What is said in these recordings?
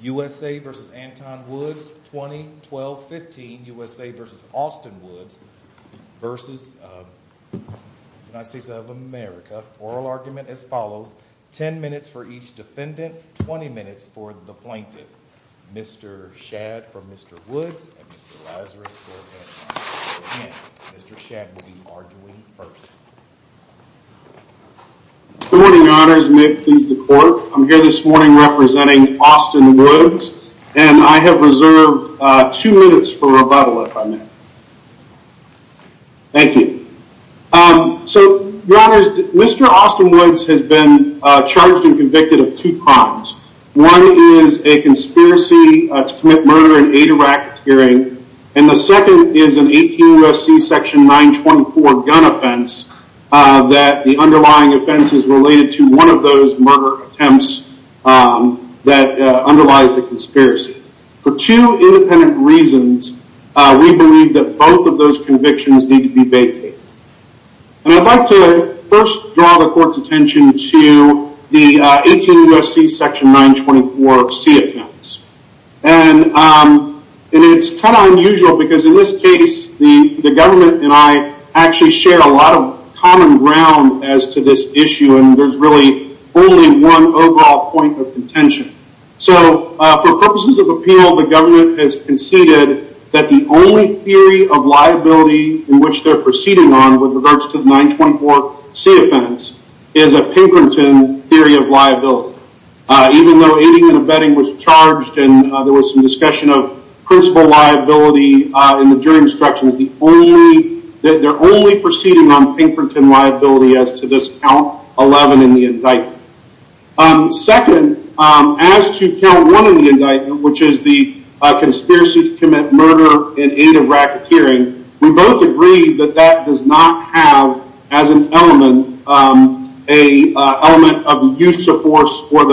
USA v. Antoine Woods 2012-15 USA v. Austin Woods v. United States of America Oral argument as follows, 10 minutes for each defendant, 20 minutes for the plaintiff Mr. Shadd from Mr. Woods and Mr. Lazarus from Antoine Woods Mr. Shadd will be arguing first Good morning your honors, may it please the court I'm here this morning representing Austin Woods And I have reserved 2 minutes for rebuttal if I may Thank you So your honors, Mr. Austin Woods has been charged and convicted of two crimes One is a conspiracy to commit murder in aid of racketeering And the second is an 18 U.S.C. section 924 gun offense That the underlying offense is related to one of those murder attempts That underlies the conspiracy For two independent reasons, we believe that both of those convictions need to be vacated And I'd like to first draw the court's attention to the 18 U.S.C. section 924 C offense And it's kind of unusual because in this case the government and I Actually share a lot of common ground as to this issue And there's really only one overall point of contention So for purposes of appeal the government has conceded That the only theory of liability in which they're proceeding on With regards to the 924 C offense is a Pinkerton theory of liability Even though 18 U.S.C. was charged and there was some discussion of Principal liability in the jury instructions They're only proceeding on Pinkerton liability as to this count 11 in the indictment Second, as to count 1 in the indictment Which is the conspiracy to commit murder in aid of racketeering We both agree that that does not have as an element An element of use of force or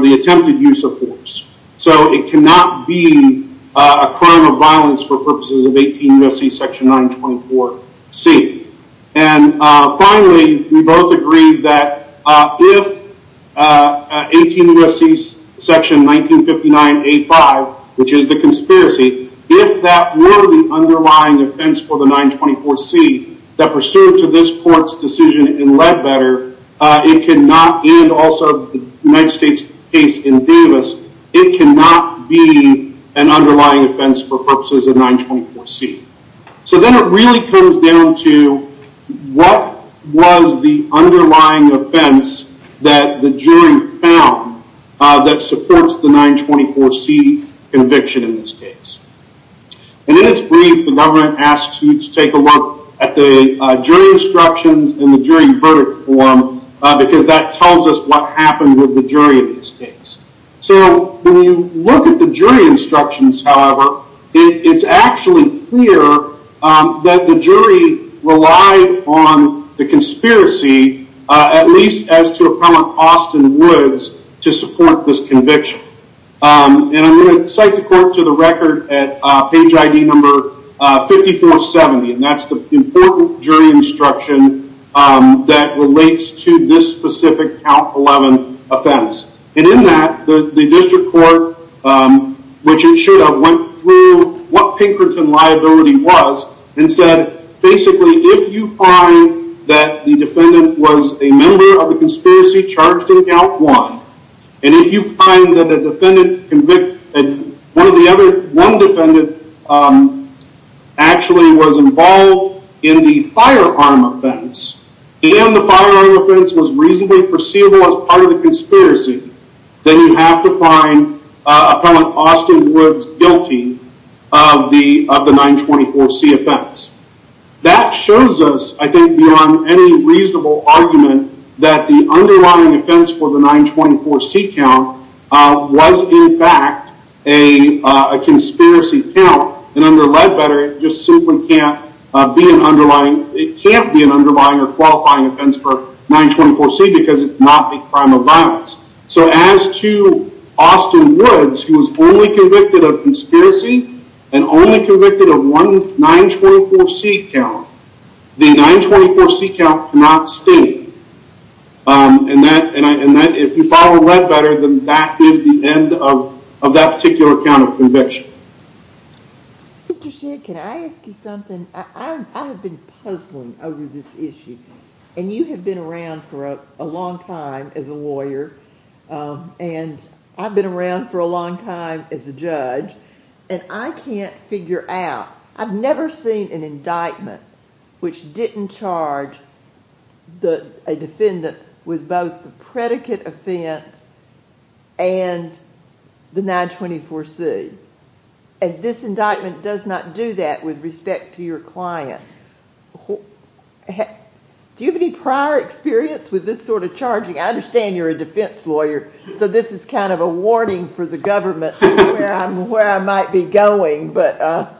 the attempted use of force So it cannot be a crime of violence for purposes of 18 U.S.C. section 924 C And finally, we both agree that if 18 U.S.C. section 1959 A5 Which is the conspiracy If that were the underlying offense for the 924 C That pursuant to this court's decision in Ledbetter It cannot, and also the United States case in Davis It cannot be an underlying offense for purposes of 924 C So then it really comes down to What was the underlying offense that the jury found That supports the 924 C conviction in this case And in its brief, the government asks you to take a look At the jury instructions and the jury verdict form Because that tells us what happened with the jury in this case So when you look at the jury instructions, however It's actually clear that the jury relied on the conspiracy At least as to Appellant Austin Woods to support this conviction And I'm going to cite the court to the record at page ID number 5470 And that's the important jury instruction that relates to this specific Count 11 offense And in that, the district court, which it should have, went through What Pinkerton liability was And said, basically, if you find that the defendant was a member of the conspiracy charged in Count 1 And if you find that one defendant actually was involved in the firearm offense And the firearm offense was reasonably foreseeable as part of the conspiracy Then you have to find Appellant Austin Woods guilty of the 924 C offense That shows us, I think, beyond any reasonable argument That the underlying offense for the 924 C count was, in fact, a conspiracy count And under Ledbetter, it just simply can't be an underlying or qualifying offense for 924 C Because it's not a crime of violence So as to Austin Woods, who was only convicted of conspiracy And only convicted of one 924 C count The 924 C count cannot stay And if you follow Ledbetter, then that is the end of that particular count of conviction Mr. Shedd, can I ask you something? I have been puzzling over this issue And you have been around for a long time as a lawyer And I've been around for a long time as a judge And I can't figure out I've never seen an indictment which didn't charge a defendant With both the predicate offense and the 924 C And this indictment does not do that with respect to your client Do you have any prior experience with this sort of charging? I understand you're a defense lawyer So this is kind of a warning for the government Where I might be going No,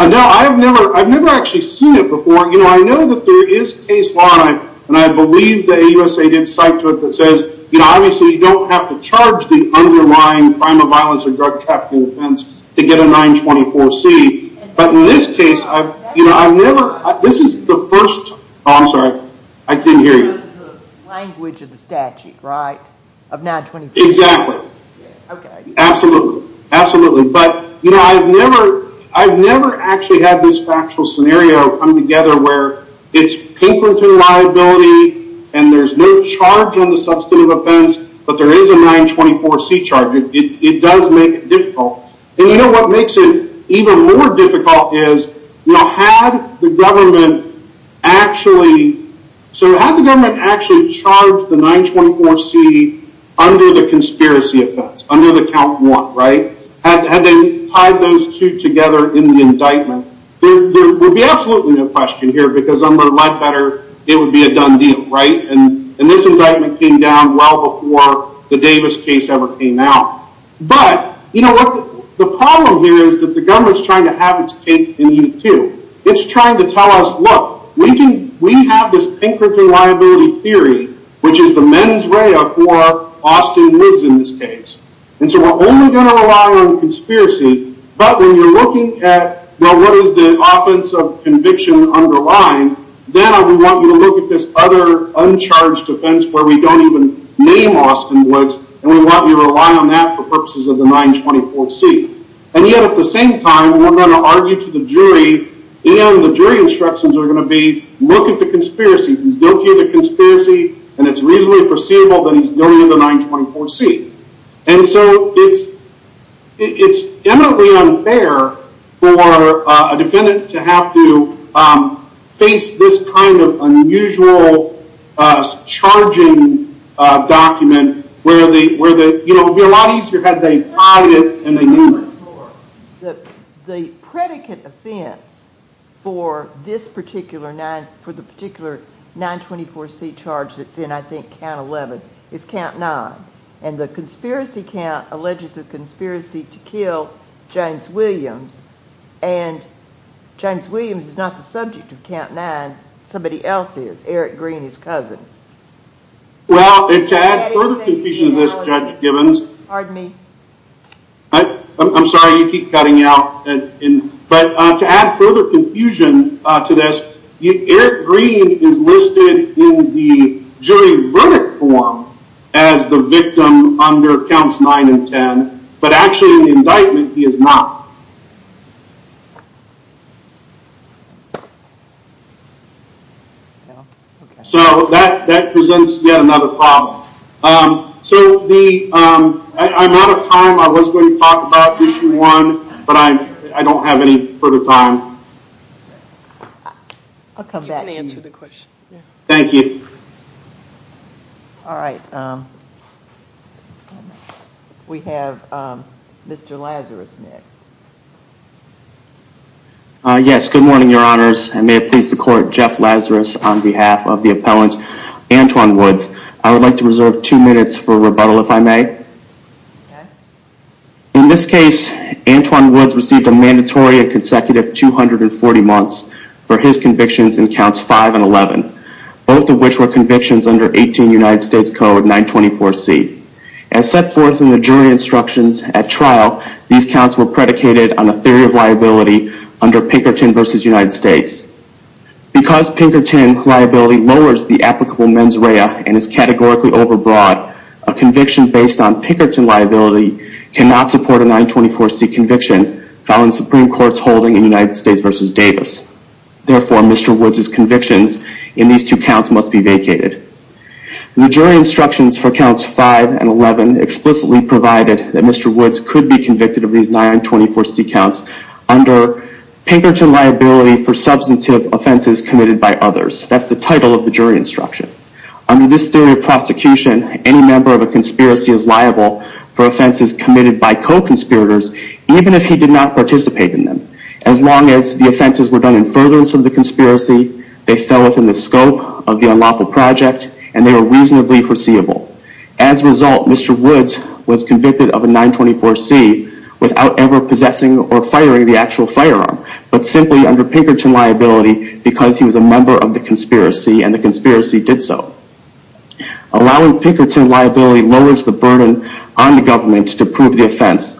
I've never actually seen it before I know that there is case law And I believe the AUSA did cite to it that says Obviously, you don't have to charge the underlying crime of violence or drug trafficking offense To get a 924 C But in this case, I've never This is the first Oh, I'm sorry, I didn't hear you This is the language of the statute, right? Of 924 C Exactly Absolutely But, you know, I've never I've never actually had this factual scenario come together Where it's Pinkerton liability And there's no charge on the substantive offense But there is a 924 C charge It does make it difficult And you know what makes it even more difficult is You know, had the government actually So had the government actually charged the 924 C Under the conspiracy offense Under the count 1, right? Had they tied those two together in the indictment There would be absolutely no question here Because I'm going to let better It would be a done deal, right? And this indictment came down well before The Davis case ever came out But, you know what? The problem here is that the government is trying to have its cake and eat it too It's trying to tell us, look We have this Pinkerton liability theory Which is the mens rea for Austin Woods in this case And so we're only going to rely on conspiracy But when you're looking at What is the offense of conviction underlying Then I would want you to look at this other Uncharged offense where we don't even name Austin Woods And we want you to rely on that for purposes of the 924 C And yet at the same time We're going to argue to the jury And the jury instructions are going to be Look at the conspiracy If he's guilty of the conspiracy And it's reasonably foreseeable Then he's guilty of the 924 C And so it's It's eminently unfair For a defendant to have to Face this kind of unusual Charging document Where the, you know It would be a lot easier had they tied it And they named it The predicate offense For this particular 9 For the particular 924 C charge That's in, I think, count 11 Is count 9 And the conspiracy count Alleges a conspiracy to kill James Williams And James Williams is not the subject of count 9 Somebody else is Eric Green, his cousin Well, to add further confusion to this Judge Gibbons Pardon me I'm sorry, you keep cutting out But to add further confusion to this Eric Green is listed in the jury verdict form As the victim under counts 9 and 10 But actually in the indictment he is not So that presents yet another problem So the I'm out of time I was going to talk about issue 1 But I don't have any further time I'll come back to you You can answer the question Thank you Alright We have Mr. Lazarus next Yes, good morning your honors I may have pleased the court Jeff Lazarus on behalf of the appellant Antwon Woods I would like to reserve two minutes for rebuttal if I may In this case Antwon Woods received a mandatory and consecutive 240 months For his convictions in counts 5 and 11 Both of which were convictions under 18 United States Code 924C As set forth in the jury instructions at trial These counts were predicated on a theory of liability Under Pinkerton v. United States Because Pinkerton liability lowers the applicable mens rea And is categorically over broad A conviction based on Pinkerton liability Cannot support a 924C conviction Found in Supreme Court's holding in United States v. Davis Therefore Mr. Woods' convictions in these two counts must be vacated The jury instructions for counts 5 and 11 Explicitly provided that Mr. Woods could be convicted of these 924C counts Under Pinkerton liability for substantive offenses committed by others That's the title of the jury instruction Under this theory of prosecution Any member of a conspiracy is liable For offenses committed by co-conspirators Even if he did not participate in them As long as the offenses were done in furtherance of the conspiracy They fell within the scope of the unlawful project And they were reasonably foreseeable As a result Mr. Woods was convicted of a 924C Without ever possessing or firing the actual firearm But simply under Pinkerton liability Because he was a member of the conspiracy And the conspiracy did so Allowing Pinkerton liability lowers the burden On the government to prove the offense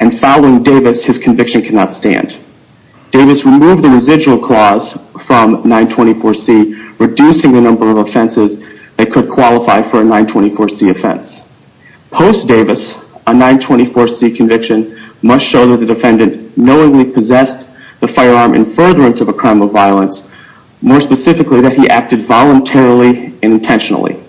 And following Davis his conviction cannot stand Davis removed the residual clause from 924C Reducing the number of offenses That could qualify for a 924C offense Post Davis a 924C conviction Must show that the defendant knowingly possessed The firearm in furtherance of a crime of violence More specifically that he acted voluntarily and intentionally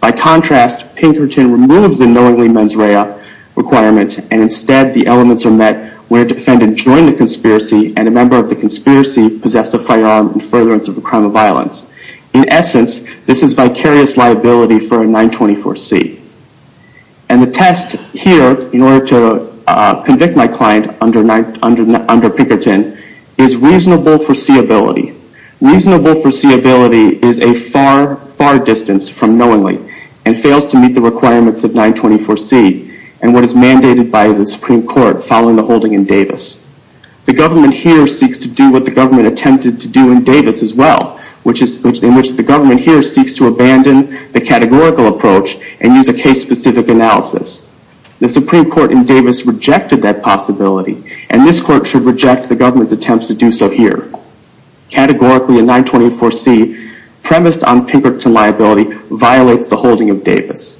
By contrast Pinkerton removes the knowingly mens rea requirement And instead the elements are met When a defendant joined the conspiracy And a member of the conspiracy Possessed a firearm in furtherance of a crime of violence In essence this is vicarious liability for a 924C And the test here in order to convict my client Under Pinkerton is reasonable foreseeability Reasonable foreseeability is a far far distance from knowingly And fails to meet the requirements of 924C And what is mandated by the Supreme Court Following the holding in Davis The government here seeks to do what the government Attempted to do in Davis as well Which is in which the government here Seeks to abandon the categorical approach And use a case specific analysis The Supreme Court in Davis rejected that possibility And this court should reject the government's attempts to do so here Categorically a 924C premised on Pinkerton liability Violates the holding of Davis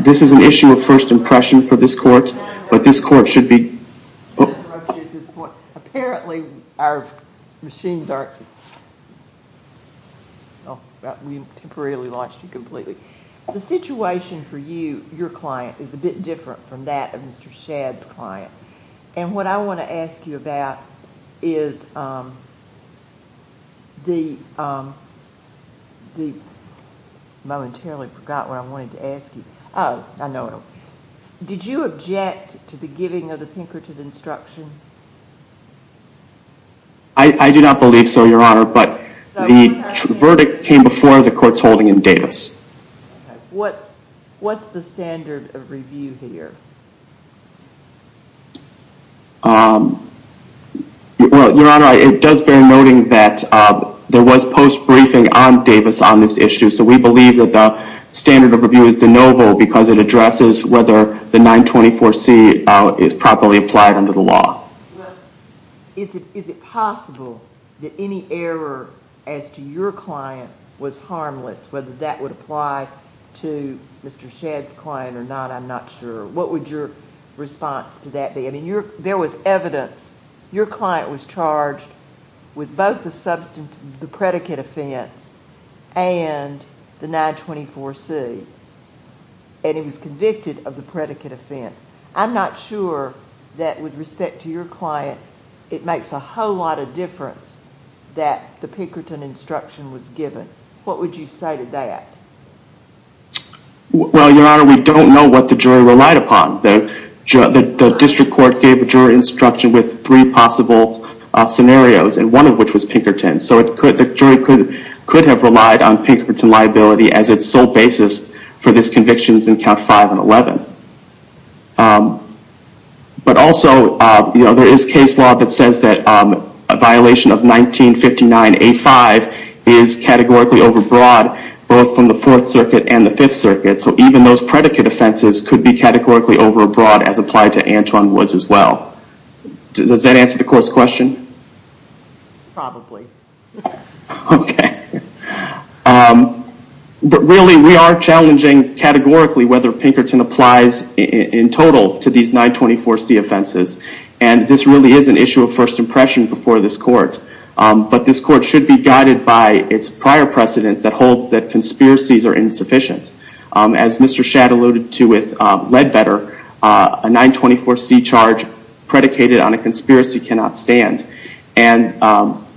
This is an issue of first impression for this court But this court should be Apparently our machines aren't We temporarily launched you completely The situation for you, your client Is a bit different from that of Mr. Shad's client And what I want to ask you about is The I momentarily forgot what I wanted to ask you Oh, I know Did you object to the giving of the Pinkerton instruction? I do not believe so your honor But the verdict came before the court's holding in Davis What's the standard of review here? Your honor, it does bear noting that There was post-briefing on Davis on this issue So we believe that the standard of review is de novo Because it addresses whether the 924C Is properly applied under the law Is it possible that any error As to your client was harmless Whether that would apply to Mr. Shad's client or not I'm not sure What would your response to that be? There was evidence Your client was charged with both the predicate offense And the 924C And he was convicted of the predicate offense I'm not sure that with respect to your client It makes a whole lot of difference That the Pinkerton instruction was given What would you say to that? Well your honor, we don't know what the jury relied upon The district court gave the jury instruction With three possible scenarios And one of which was Pinkerton So the jury could have relied on Pinkerton liability As it's sole basis for this conviction in count 5 and 11 But also, there is case law that says that A violation of 1959A5 Is categorically over broad Both from the 4th circuit and the 5th circuit So even those predicate offenses Could be categorically over broad As applied to Anton Woods as well Does that answer the court's question? Probably Okay But really we are challenging categorically Whether Pinkerton applies in total To these 924C offenses And this really is an issue of first impression Before this court But this court should be guided by It's prior precedence that holds that Conspiracies are insufficient As Mr. Shadd alluded to with Ledbetter A 924C charge predicated on a conspiracy cannot stand And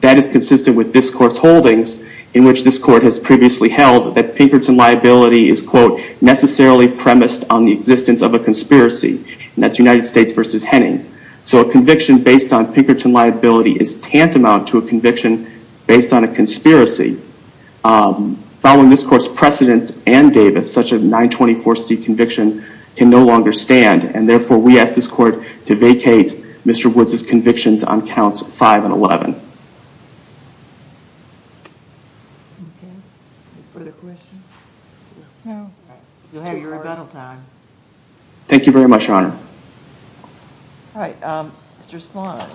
that is consistent with this court's holdings In which this court has previously held That Pinkerton liability is quote Necessarily premised on the existence of a conspiracy And that's United States v. Henning So a conviction based on Pinkerton liability Is tantamount to a conviction based on a conspiracy Following this court's precedent and Davis Such a 924C conviction can no longer stand And therefore we ask this court to vacate Mr. Woods' convictions on counts 5 and 11 Okay Any further questions? No You'll have your rebuttal time Thank you very much your honor Alright Mr. Sloan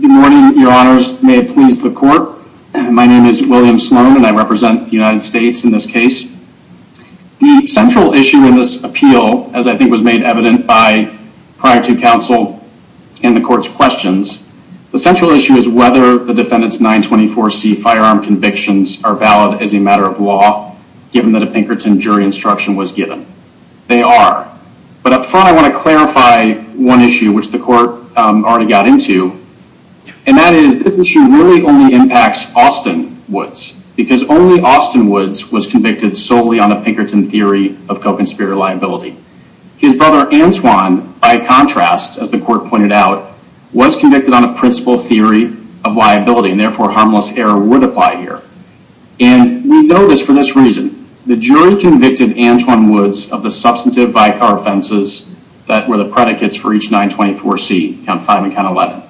Good morning your honors May it please the court My name is William Sloan And I represent the United States in this case The central issue in this appeal As I think was made evident by Prior to counsel and the court's questions The central issue is whether The defendant's 924C firearm convictions Are valid as a matter of law Given that a Pinkerton jury instruction was given They are But up front I want to clarify one issue Which the court already got into And that is This issue really only impacts Austin Woods Because only Austin Woods was convicted Solely on a Pinkerton theory of co-conspirator liability His brother Antoine by contrast As the court pointed out Was convicted on a principle theory of liability And therefore harmless error would apply here And we know this for this reason The jury convicted Antoine Woods Of the substantive by-car offenses That were the predicates for each 924C Count 5 and Count 11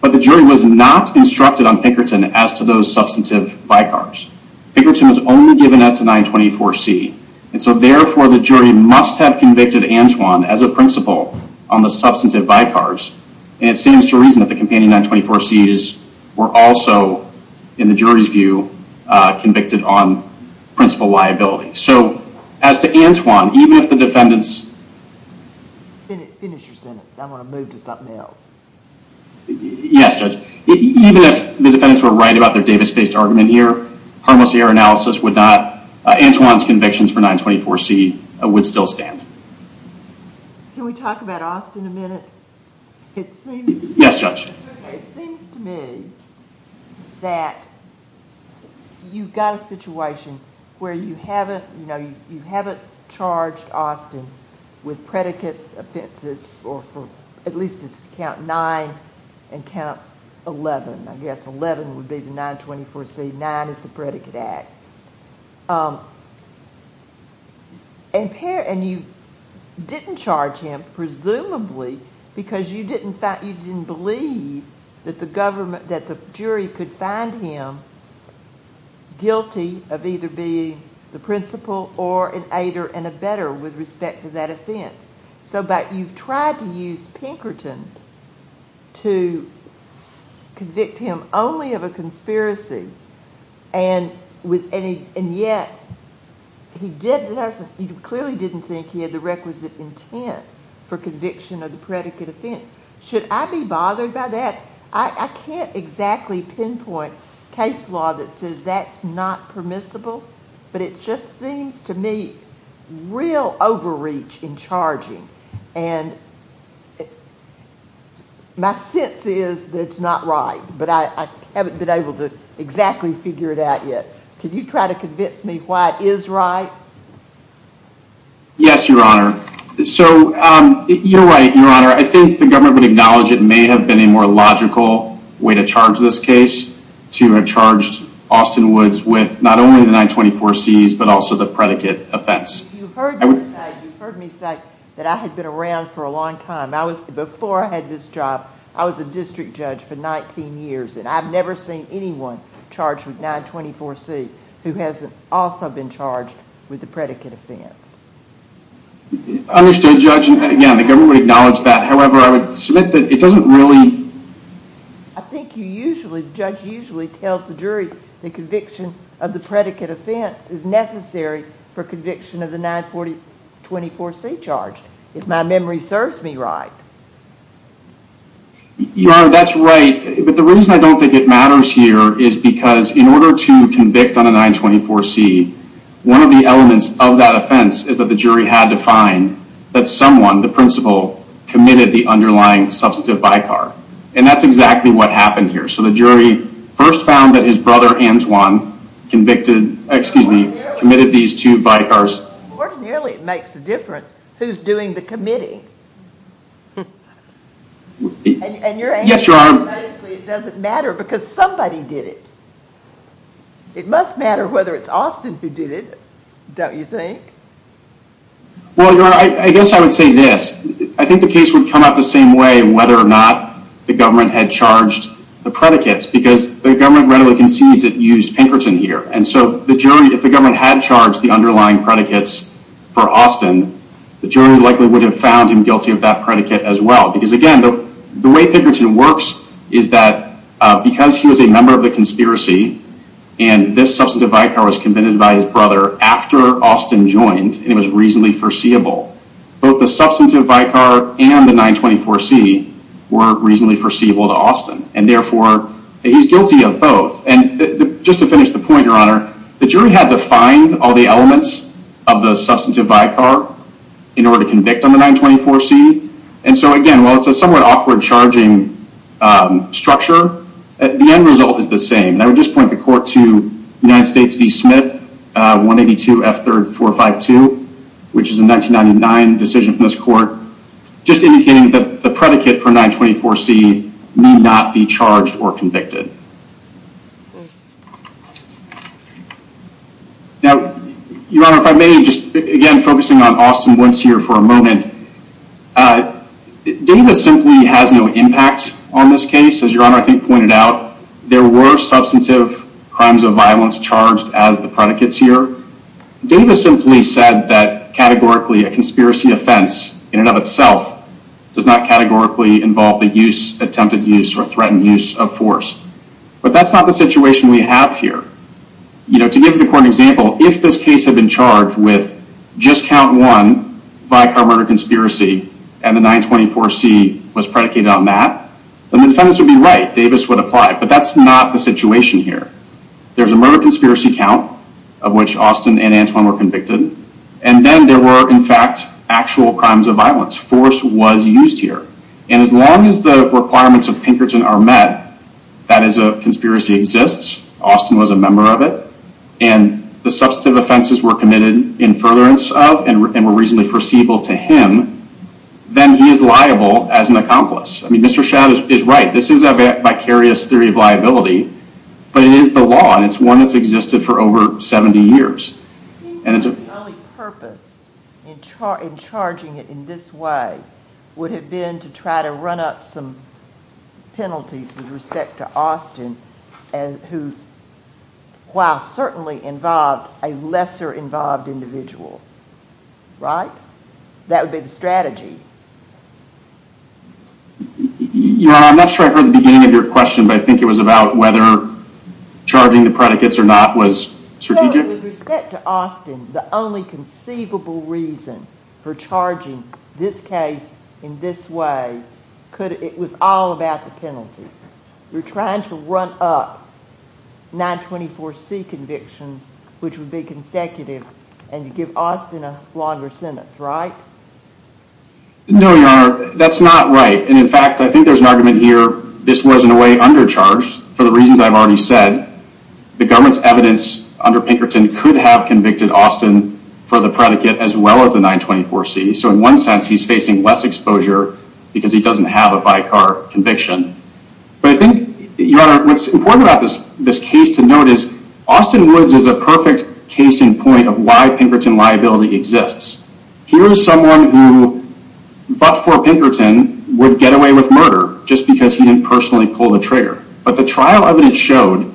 But the jury was not instructed on Pinkerton As to those substantive by-cars Pinkerton was only given as to 924C And so therefore the jury must have convicted Antoine As a principle on the substantive by-cars And it stands to reason that the companion 924Cs Were also in the jury's view Convicted on principle liability So as to Antoine Even if the defendants Finish your sentence I want to move to something else Yes Judge Even if the defendants were right about their Davis-based argument here Harmless error analysis would not Antoine's convictions for 924C would still stand Can we talk about Austin a minute? Yes Judge It seems to me That You've got a situation Where you haven't You haven't charged Austin With predicate offenses Or at least count 9 And count 11 I guess 11 would be the 924C 9 is the predicate act And you didn't charge him presumably Because you didn't believe That the jury could find him Guilty of either being the principle Or an aider and a better With respect to that offense So you've tried to use Pinkerton To convict him only of a conspiracy And yet You clearly didn't think he had the requisite intent For conviction of the predicate offense Should I be bothered by that? I can't exactly pinpoint Case law that says that's not permissible But it just seems to me Real overreach in charging And My sense is that it's not right But I haven't been able to Exactly figure it out yet Can you try to convince me why it is right? Yes Your Honor So you're right Your Honor I think the government would acknowledge It may have been a more logical Way to charge this case To have charged Austin Woods With not only the 924C But also the predicate offense You've heard me say That I had been around for a long time Before I had this job I was a district judge for 19 years And I've never seen anyone Charged with 924C Who hasn't also been charged With the predicate offense Understood Judge Again the government would acknowledge that However I would submit that It doesn't really I think you usually Judge usually tells the jury The conviction of the predicate offense Is necessary for conviction Of the 924C charge If my memory serves me right Your Honor that's right But the reason I don't think it matters here Is because in order to convict On a 924C One of the elements of that offense Is that the jury had to find That someone, the principal Committed the underlying Substantive vicar And that's exactly what happened here So the jury first found That his brother Antoine Convicted, excuse me Committed these two vicars Ordinarily it makes a difference Who's doing the committing And your answer is Basically it doesn't matter Because somebody did it It must matter whether it's Austin Who did it Don't you think? Well your Honor I guess I would say this I think the case would come out the same way Whether or not the government Had charged the predicates Because the government readily concedes It used Pinkerton here And so the jury If the government had charged The underlying predicates For Austin The jury likely would have found him guilty Of that predicate as well The way Pinkerton works Is that Because he was a member of the conspiracy And this substantive vicar Was committed by his brother After Austin joined And it was reasonably foreseeable Both the substantive vicar And the 924C Were reasonably foreseeable to Austin And therefore He's guilty of both And just to finish the point your Honor The jury had to find All the elements Of the substantive vicar In order to convict on the 924C And so again Charging structure The end result is the same And I would just point the court to United States v. Smith 182 F. 3rd 452 Which is a 1999 decision from this court Just indicating that The predicate for 924C Need not be charged or convicted Now Your Honor if I may Just again focusing on Austin once here For a moment Data simply has no impact On this case As your Honor I think pointed out There were substantive Crimes of violence Charged as the predicates here Data simply said that Categorically a conspiracy offense In and of itself Does not categorically involve the use Attempted use or threatened use of force But that's not the situation we have here You know to give the court an example If this case had been charged with Just count one Vicar murder conspiracy And the 924C was predicated on that Then the defendants would be right Davis would apply But that's not the situation here There's a murder conspiracy count Of which Austin and Antoine were convicted And then there were in fact Actual crimes of violence Force was used here And as long as the requirements of Pinkerton are met That is a conspiracy exists Austin was a member of it And the substantive offenses Were committed in furtherance of And were reasonably foreseeable to him Then he is liable As an accomplice I mean Mr. Shad is right This is a vicarious theory of liability But it is the law And it's one that's existed for over 70 years And it's a Purpose In charging it in this way Would have been to try to run up some Penalties With respect to Austin And who's While certainly involved A lesser involved individual Right That would be the strategy You know I'm not sure I heard the beginning of your question But I think it was about whether Charging the predicates or not was Strategic The only conceivable reason For charging this case In this way Could it was all about the penalty You're trying to run up 924 C Conviction which would be Consecutive and you give Austin A longer sentence right No your honor That's not right and in fact I think there's an argument here this was in a way Undercharged for the reasons I've already said The government's evidence Under Pinkerton could have convicted Austin for the predicate as well As the 924 C so in one sense He's facing less exposure because He doesn't have a vicar conviction But I think your honor What's important about this case to note is Austin Woods is a perfect Case in point of why Pinkerton liability Exists here is someone Who but for Pinkerton Would get away with murder Just because he didn't personally pull the trigger But the trial evidence showed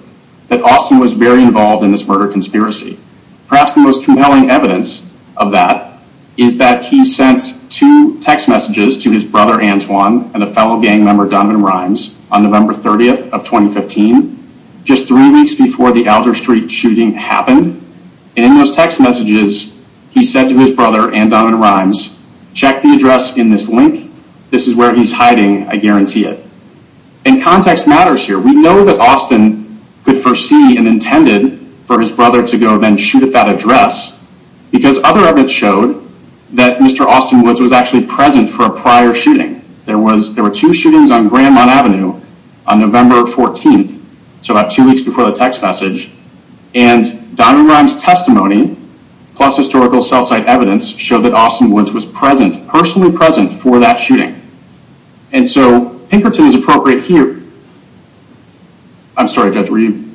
That Austin was very involved in this murder Conspiracy perhaps the most compelling Evidence of that Is that he sent two Text messages to his brother Antoine And a fellow gang member Donovan Rimes On November 30th of 2015 Just three weeks before the Alder Street shooting happened And in those text messages He said to his brother and Donovan Rimes Check the address in this link This is where he's hiding I guarantee it And context matters here We know that Austin could Foresee and intended for his brother To go then shoot at that address Because other evidence showed That Mr. Austin Woods was actually present For a prior shooting There were two shootings on Grandmont Avenue On November 14th So about two weeks before the text message And Donovan Rimes testimony Plus historical cell site evidence Showed that Austin Woods was present Personally present for that shooting And so Pinkerton is appropriate here I'm sorry judge were you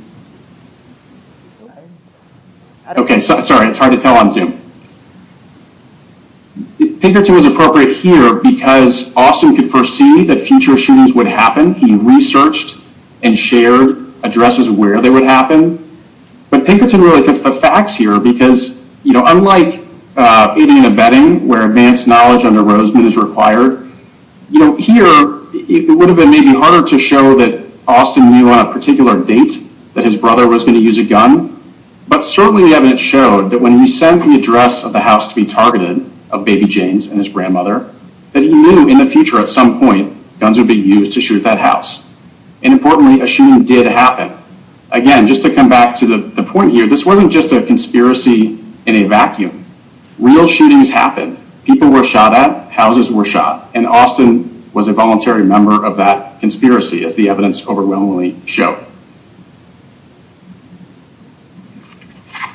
Okay sorry it's hard to tell on zoom Pinkerton was appropriate here Because Austin could foresee That future shootings would happen He researched and shared Addresses where they would happen But Pinkerton really fits the facts here Because you know unlike Aiding and abetting where advanced Knowledge under Roseman is required You know here It would have been maybe harder to show that Austin knew on a particular date That his brother was going to use a gun But certainly the evidence showed that when he Sent the address of the house to be targeted Of Baby James and his grandmother That he knew in the future at some point Guns would be used to shoot that house And importantly a shooting did happen Again just to come back to the point here This wasn't just a conspiracy In a vacuum Real shootings happened People were shot at, houses were shot And Austin was a voluntary member of that Conspiracy as the evidence overwhelmingly Showed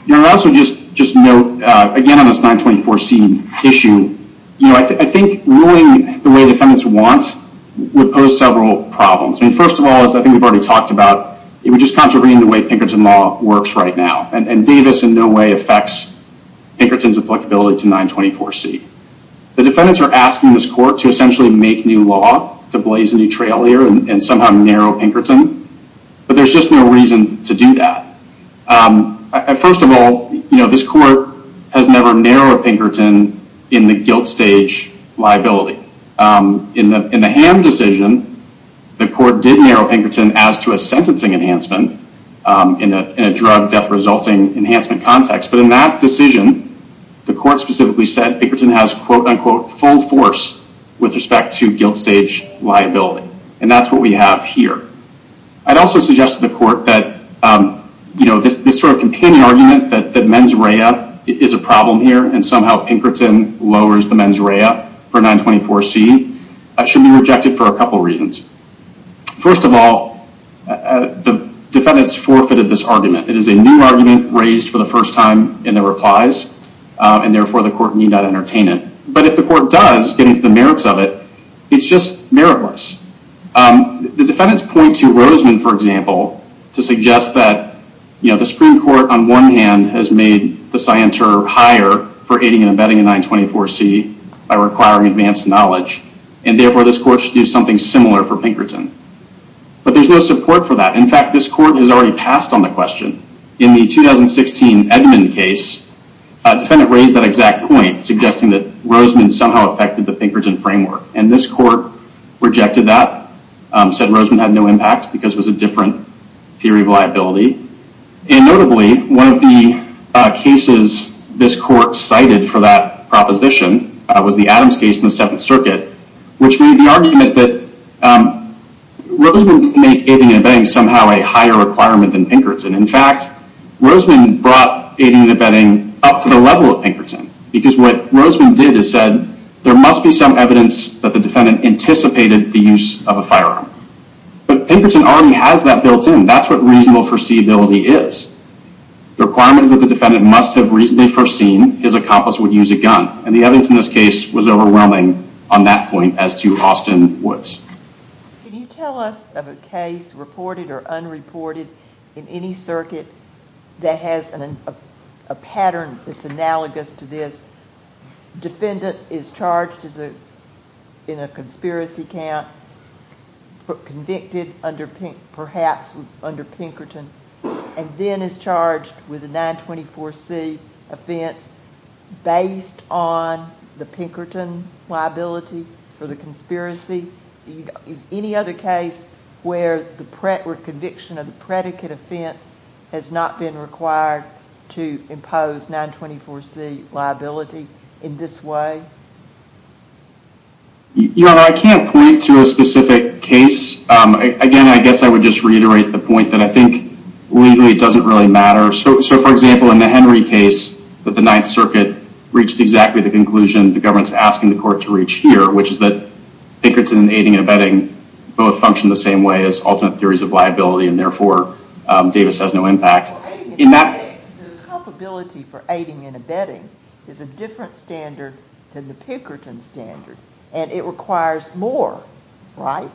You know also just note Again on this 924c issue You know I think Ruling the way defendants want Would pose several problems I mean first of all as I think we've already talked about It would just contravene the way Pinkerton law Works right now and Davis in no way Affects Pinkerton's applicability To 924c The defendants are asking this court to essentially Make new law to blaze a new trail Here and somehow narrow Pinkerton But there's just no reason To do that First of all you know this court Has never narrowed Pinkerton In the guilt stage liability In the Ham decision The court did narrow Pinkerton as to a sentencing enhancement In a drug death Resulting enhancement context But in that decision the court Specifically said Pinkerton has quote unquote Full force with respect to Guilt stage liability And that's what we have here I'd also suggest to the court that You know this sort of companion argument That mens rea is a problem Here and somehow Pinkerton Lowers the mens rea For 924c should be rejected For a couple reasons First of all The defendants forfeited this argument It is a new argument raised for the first time In their replies And therefore the court need not entertain it But if the court does getting to the merits of it It's just meritless The defendants point to Roseman for example to suggest That you know the Supreme Court On one hand has made the Resolution 924c by requiring Advanced knowledge and therefore this court Should do something similar for Pinkerton But there's no support for that In fact this court has already passed on the question In the 2016 Edmund case A defendant raised that exact point Suggesting that Roseman Somehow affected the Pinkerton framework And this court rejected that Said Roseman had no impact Because it was a different theory of liability And notably One of the cases This court cited for that Proposition was the Adams case In the 7th circuit Which made the argument that Roseman made aiding and abetting Somehow a higher requirement than Pinkerton In fact Roseman brought Aiding and abetting up to the level of Pinkerton Because what Roseman did Is said there must be some evidence That the defendant anticipated the use Of a firearm But Pinkerton already has that built in That's what reasonable foreseeability is The requirements that the defendant Must have reasonably foreseen His accomplice would use a gun And the evidence in this case was overwhelming On that point as to Austin Woods Can you tell us of a case Reported or unreported In any circuit That has a pattern That's analogous to this Defendant is charged In a conspiracy count Convicted Perhaps Under Pinkerton And then is charged with a 924C Offense Based on The Pinkerton liability For the conspiracy Any other case Where the conviction of the predicate Offense has not been required To impose 924C liability In this way You know I can't Point to a specific case Again I guess I would just reiterate The point that I think It doesn't really matter So for example in the Henry case That the 9th circuit reached exactly the conclusion The government is asking the court to reach here Which is that Pinkerton, aiding and abetting Both function the same way As alternate theories of liability And therefore Davis has no impact The culpability For aiding and abetting Is a different standard than the Pinkerton standard And it requires more Right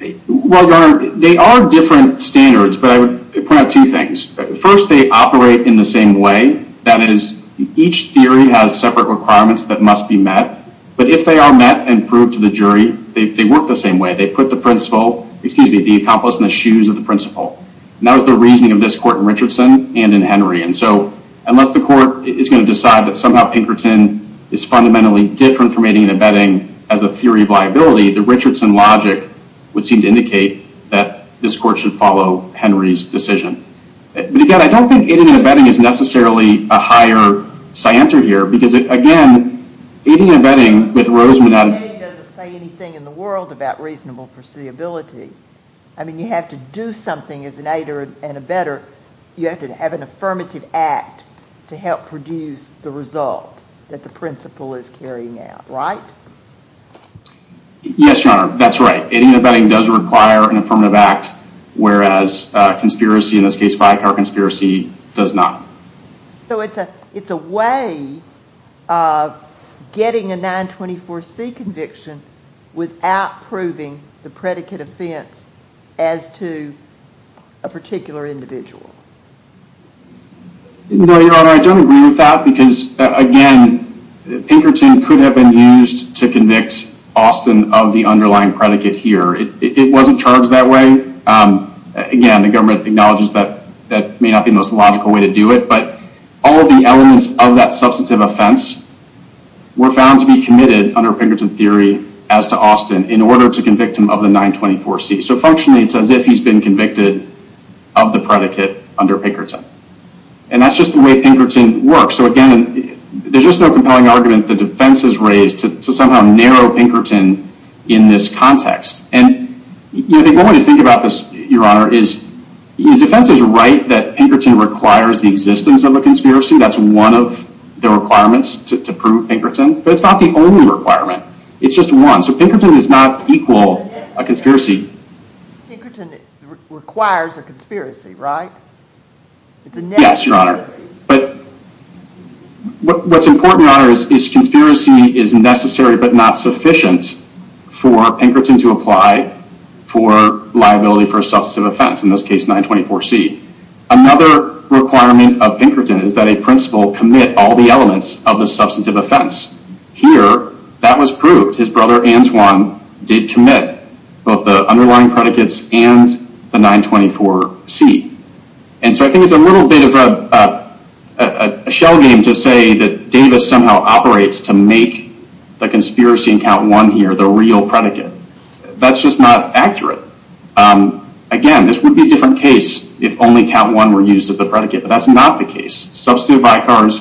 Well your honor They are different standards But I would point out two things First they operate in the same way That is each theory has Separate requirements that must be met But if they are met and proved to the jury They work the same way They put the accomplice in the shoes Of the principal And that was the reasoning of this court in Richardson and in Henry And so unless the court Is going to decide that somehow Pinkerton Is fundamentally different from aiding and abetting As a theory of liability The Richardson logic would seem to indicate That this court should follow Henry's decision But again I don't think aiding and abetting is necessarily A higher scienter here Because again Aiding and abetting with Roseman Doesn't say anything in the world about reasonable Perceivability I mean you have to do something as an aider And abetter You have to have an affirmative act To help produce the result That the principal is carrying out Right? Yes your honor that's right Aiding and abetting does require an affirmative act Whereas conspiracy In this case by car conspiracy does not So it's a It's a way Of getting a 924C Conviction without Proving the predicate offense As to A particular individual No your honor I don't agree with that Because again Pinkerton could have been used To convict Austin of the Underlying predicate here It wasn't charged that way Again the government acknowledges that That may not be the most logical way to do it But all of the elements of that Substantive offense Were found to be committed under Pinkerton theory As to Austin in order to Convict him of the 924C So functionally it's as if he's been convicted Of the predicate under Pinkerton And that's just the way Pinkerton works So again there's just no compelling argument The defense has raised to somehow Narrow Pinkerton in this context And One way to think about this your honor is The defense is right that Pinkerton requires the existence of a conspiracy That's one of the requirements To prove Pinkerton But it's not the only requirement It's just one so Pinkerton does not equal A conspiracy Pinkerton requires a conspiracy right? Yes your honor But What's important your honor Is conspiracy is necessary But not sufficient For Pinkerton to apply For liability for a substantive offense In this case 924C Another requirement of Pinkerton Is that a principal commit all the elements Of the substantive offense Here that was proved His brother Antoine did commit Both the underlying predicates And the 924C And so I think it's a little bit Of a Shell game to say that Davis somehow Operates to make The conspiracy in count one here the real Predicate that's just not accurate Again this would Be a different case if only count one Were used as the predicate but that's not the case Substantive vicars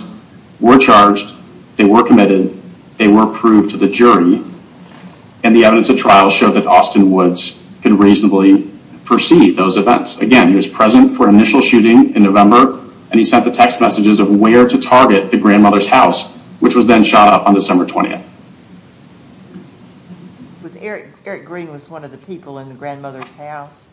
were Charged they were committed They were proved to the jury And the evidence of trial showed that Austin Woods could reasonably Perceive those events again He was present for initial shooting in November And he sent the text messages of where To target the grandmother's house Which was then shot up on December 20th Was Eric Green was one of the people In the grandmother's house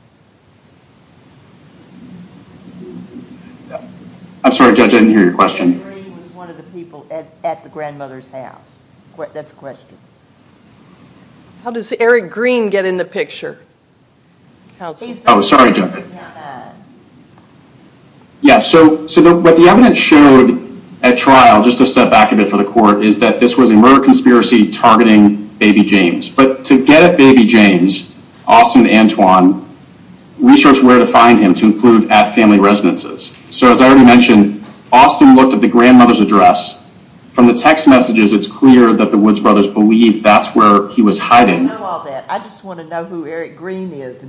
I'm sorry judge I didn't hear your question Was one of the people at the grandmother's house That's the question How does Eric Green get In the picture Oh sorry judge Yeah so What the evidence showed At trial just to step back a bit for the court Is that this was a murder conspiracy Targeting baby James but to Get at baby James Austin Antoine Researched where to find him to include at family Residences so as I already mentioned Austin looked at the grandmother's address From the text messages It's clear that the Woods brothers believed That's where he was hiding I just want to know who Eric Green is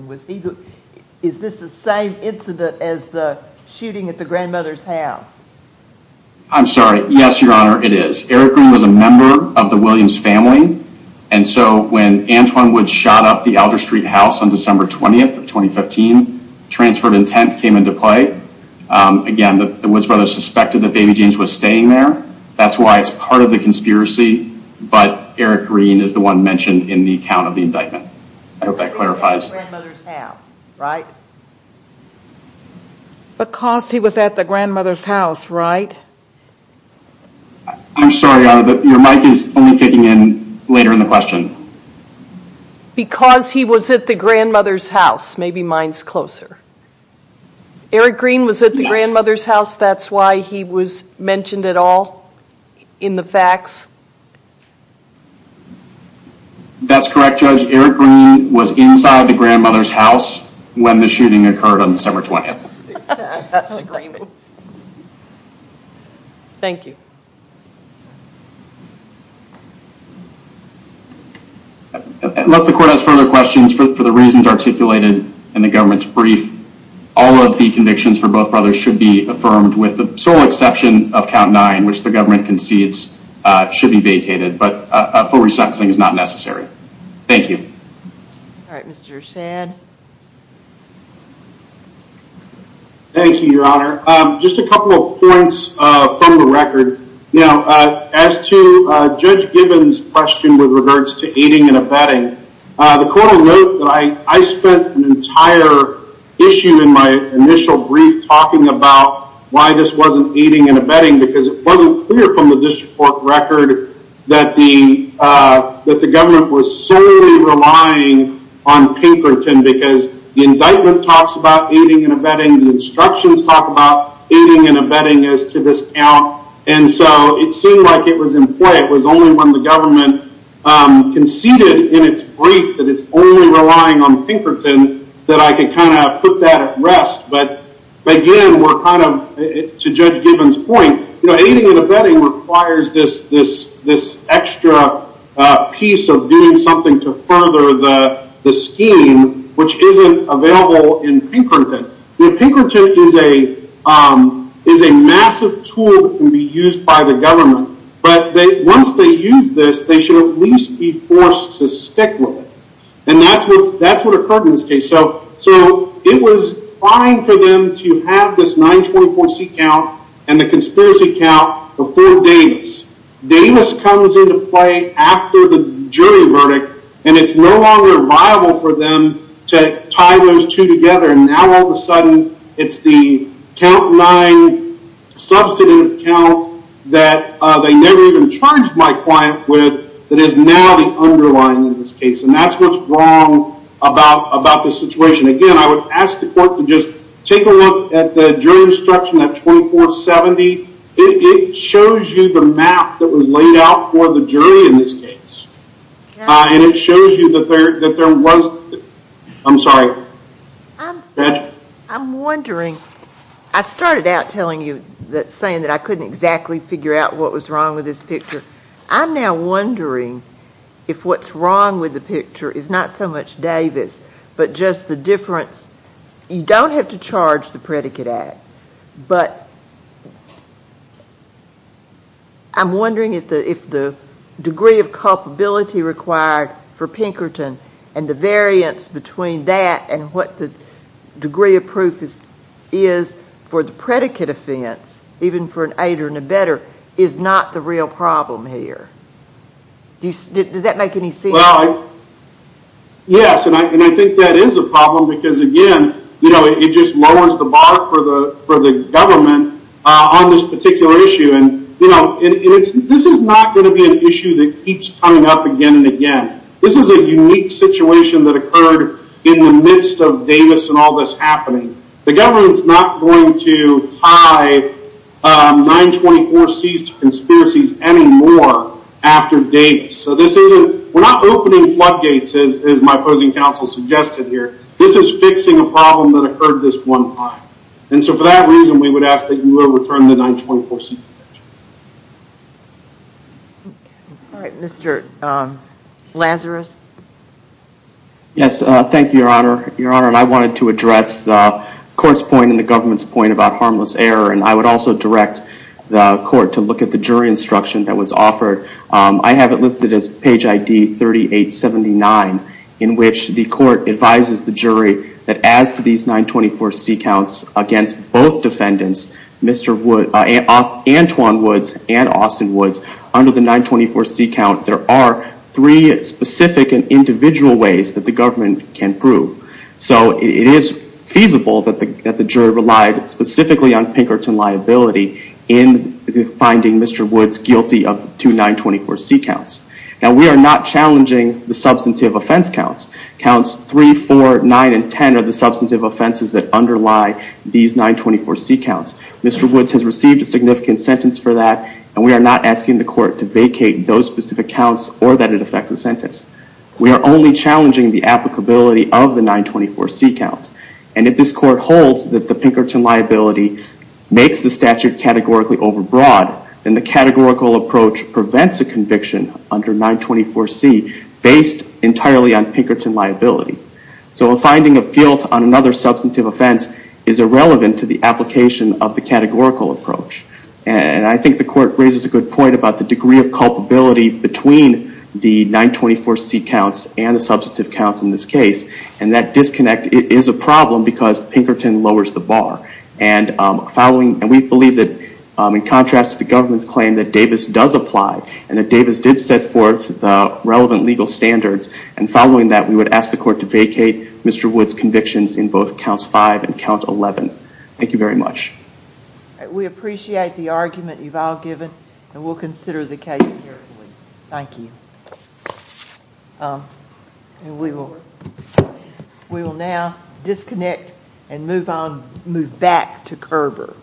Is this the same Incident as the shooting at the Grandmother's house I'm sorry yes your honor it is Eric Green was a member of the Williams family And so when Antoine Woods shot up the elder street house On December 20th of 2015 Transferred intent came into play Again the Woods brothers Suspected that baby James was staying there That's why it's part of the conspiracy But Eric Green is the one Mentioned in the account of the indictment I hope that clarifies Right Because he was at the Grandmother's house right I'm sorry Your mic is only kicking in Later in the question Because he was at the Grandmother's house maybe mine's closer Eric Green Eric Green was at the grandmother's house That's why he was mentioned at all In the facts That's correct Judge Eric Green was inside the grandmother's house When the shooting occurred on December 20th Thank you Unless the court has further questions For the reasons articulated In the government's brief All of the convictions for both brothers should be Affirmed with the sole exception Of count nine which the government concedes Should be vacated But a full re-sentencing is not necessary Thank you Thank you your honor Just a couple of points from the record Now as to Judge Gibbons question with regards To aiding and abetting The court wrote that I spent an entire Issue in my initial brief Talking about why this wasn't Aiding and abetting because it wasn't clear From the district court record That the Government was solely relying On Pinkerton because The indictment talks about aiding and abetting The instructions talk about Aiding and abetting as to this count And so it seemed like it was In play it was only when the government Conceded in its Brief that it's only relying on Pinkerton that I could kind of Put that at rest but Again we're kind of To Judge Gibbons point you know aiding and abetting Requires this Extra piece Of doing something to further the Scheme which isn't Available in Pinkerton Pinkerton is a Is a massive tool That can be used by the government But once they use this They should at least be forced to Stick with it and that's what Occurred in this case so It was fine for them to Have this 924C count And the conspiracy count Before Davis Davis comes into play after the Jury verdict and it's no longer Viable for them to Tie those two together and now all of a sudden It's the count 9 Substantive count That they never even charged my client With that is now the Underlying in this case and that's what's wrong About this situation Again I would ask the court to just Take a look at the jury instruction At 2470 It shows you the map That was laid out for the jury in this case And it shows You that there was I'm sorry I'm wondering I started out telling you That saying that I couldn't exactly Figure out what was wrong with this picture I'm now wondering If what's wrong with the picture Is not so much Davis but just The difference You don't have to charge the predicate act But I'm wondering if the Degree of culpability required For Pinkerton and the variance Between that and what the Is for the predicate offense Even for an aider and abetter Is not the real problem here Does that Make any sense Yes and I think that is a problem Because again It just lowers the bar for the Government on this particular Issue and This is not going to be an issue that Keeps coming up again and again This is a unique situation that occurred In the midst of Davis And all this happening The government is not going to Tie 924C To conspiracies anymore After Davis We're not opening floodgates As my opposing counsel suggested here This is fixing a problem that occurred This one time and so for that reason We would ask that you would return the 924C Mr. Lazarus Yes thank you Your honor and I wanted to address The court's point and the government's Point about harmless error and I would also Direct the court to look at the Jury instruction that was offered I have it listed as page ID 3879 in which The court advises the jury That as to these 924C Counts against both defendants Mr. Woods Antoine Woods and Austin Woods Under the 924C count there are Three specific and individual Ways that the government can prove So it is feasible That the jury relied Specifically on Pinkerton liability In finding Mr. Woods Guilty of two 924C counts Now we are not challenging The substantive offense counts Counts 3, 4, 9 and 10 Are the substantive offenses that underlie These 924C counts Mr. Woods has received a significant sentence For that and we are not asking the court To vacate those specific counts Or that it affects a sentence We are only challenging the applicability Of the 924C count And if this court holds that the Pinkerton liability Makes the statute Categorically over broad Then the categorical approach prevents a conviction Under 924C Based entirely on Pinkerton liability So a finding of guilt On another substantive offense Is irrelevant to the application Of the categorical approach And I think the court Raises a good point about the degree of culpability Between the 924C Counts and the substantive counts In this case and that disconnect Is a problem because Pinkerton lowers The bar and following And we believe that in contrast To the government's claim that Davis does apply And that Davis did set forth The relevant legal standards And following that we would ask the court to vacate Mr. Woods convictions in both Counts 5 and count 11 Thank you very much We appreciate the argument you've all given And we'll consider the case Thank you And move back to Kerber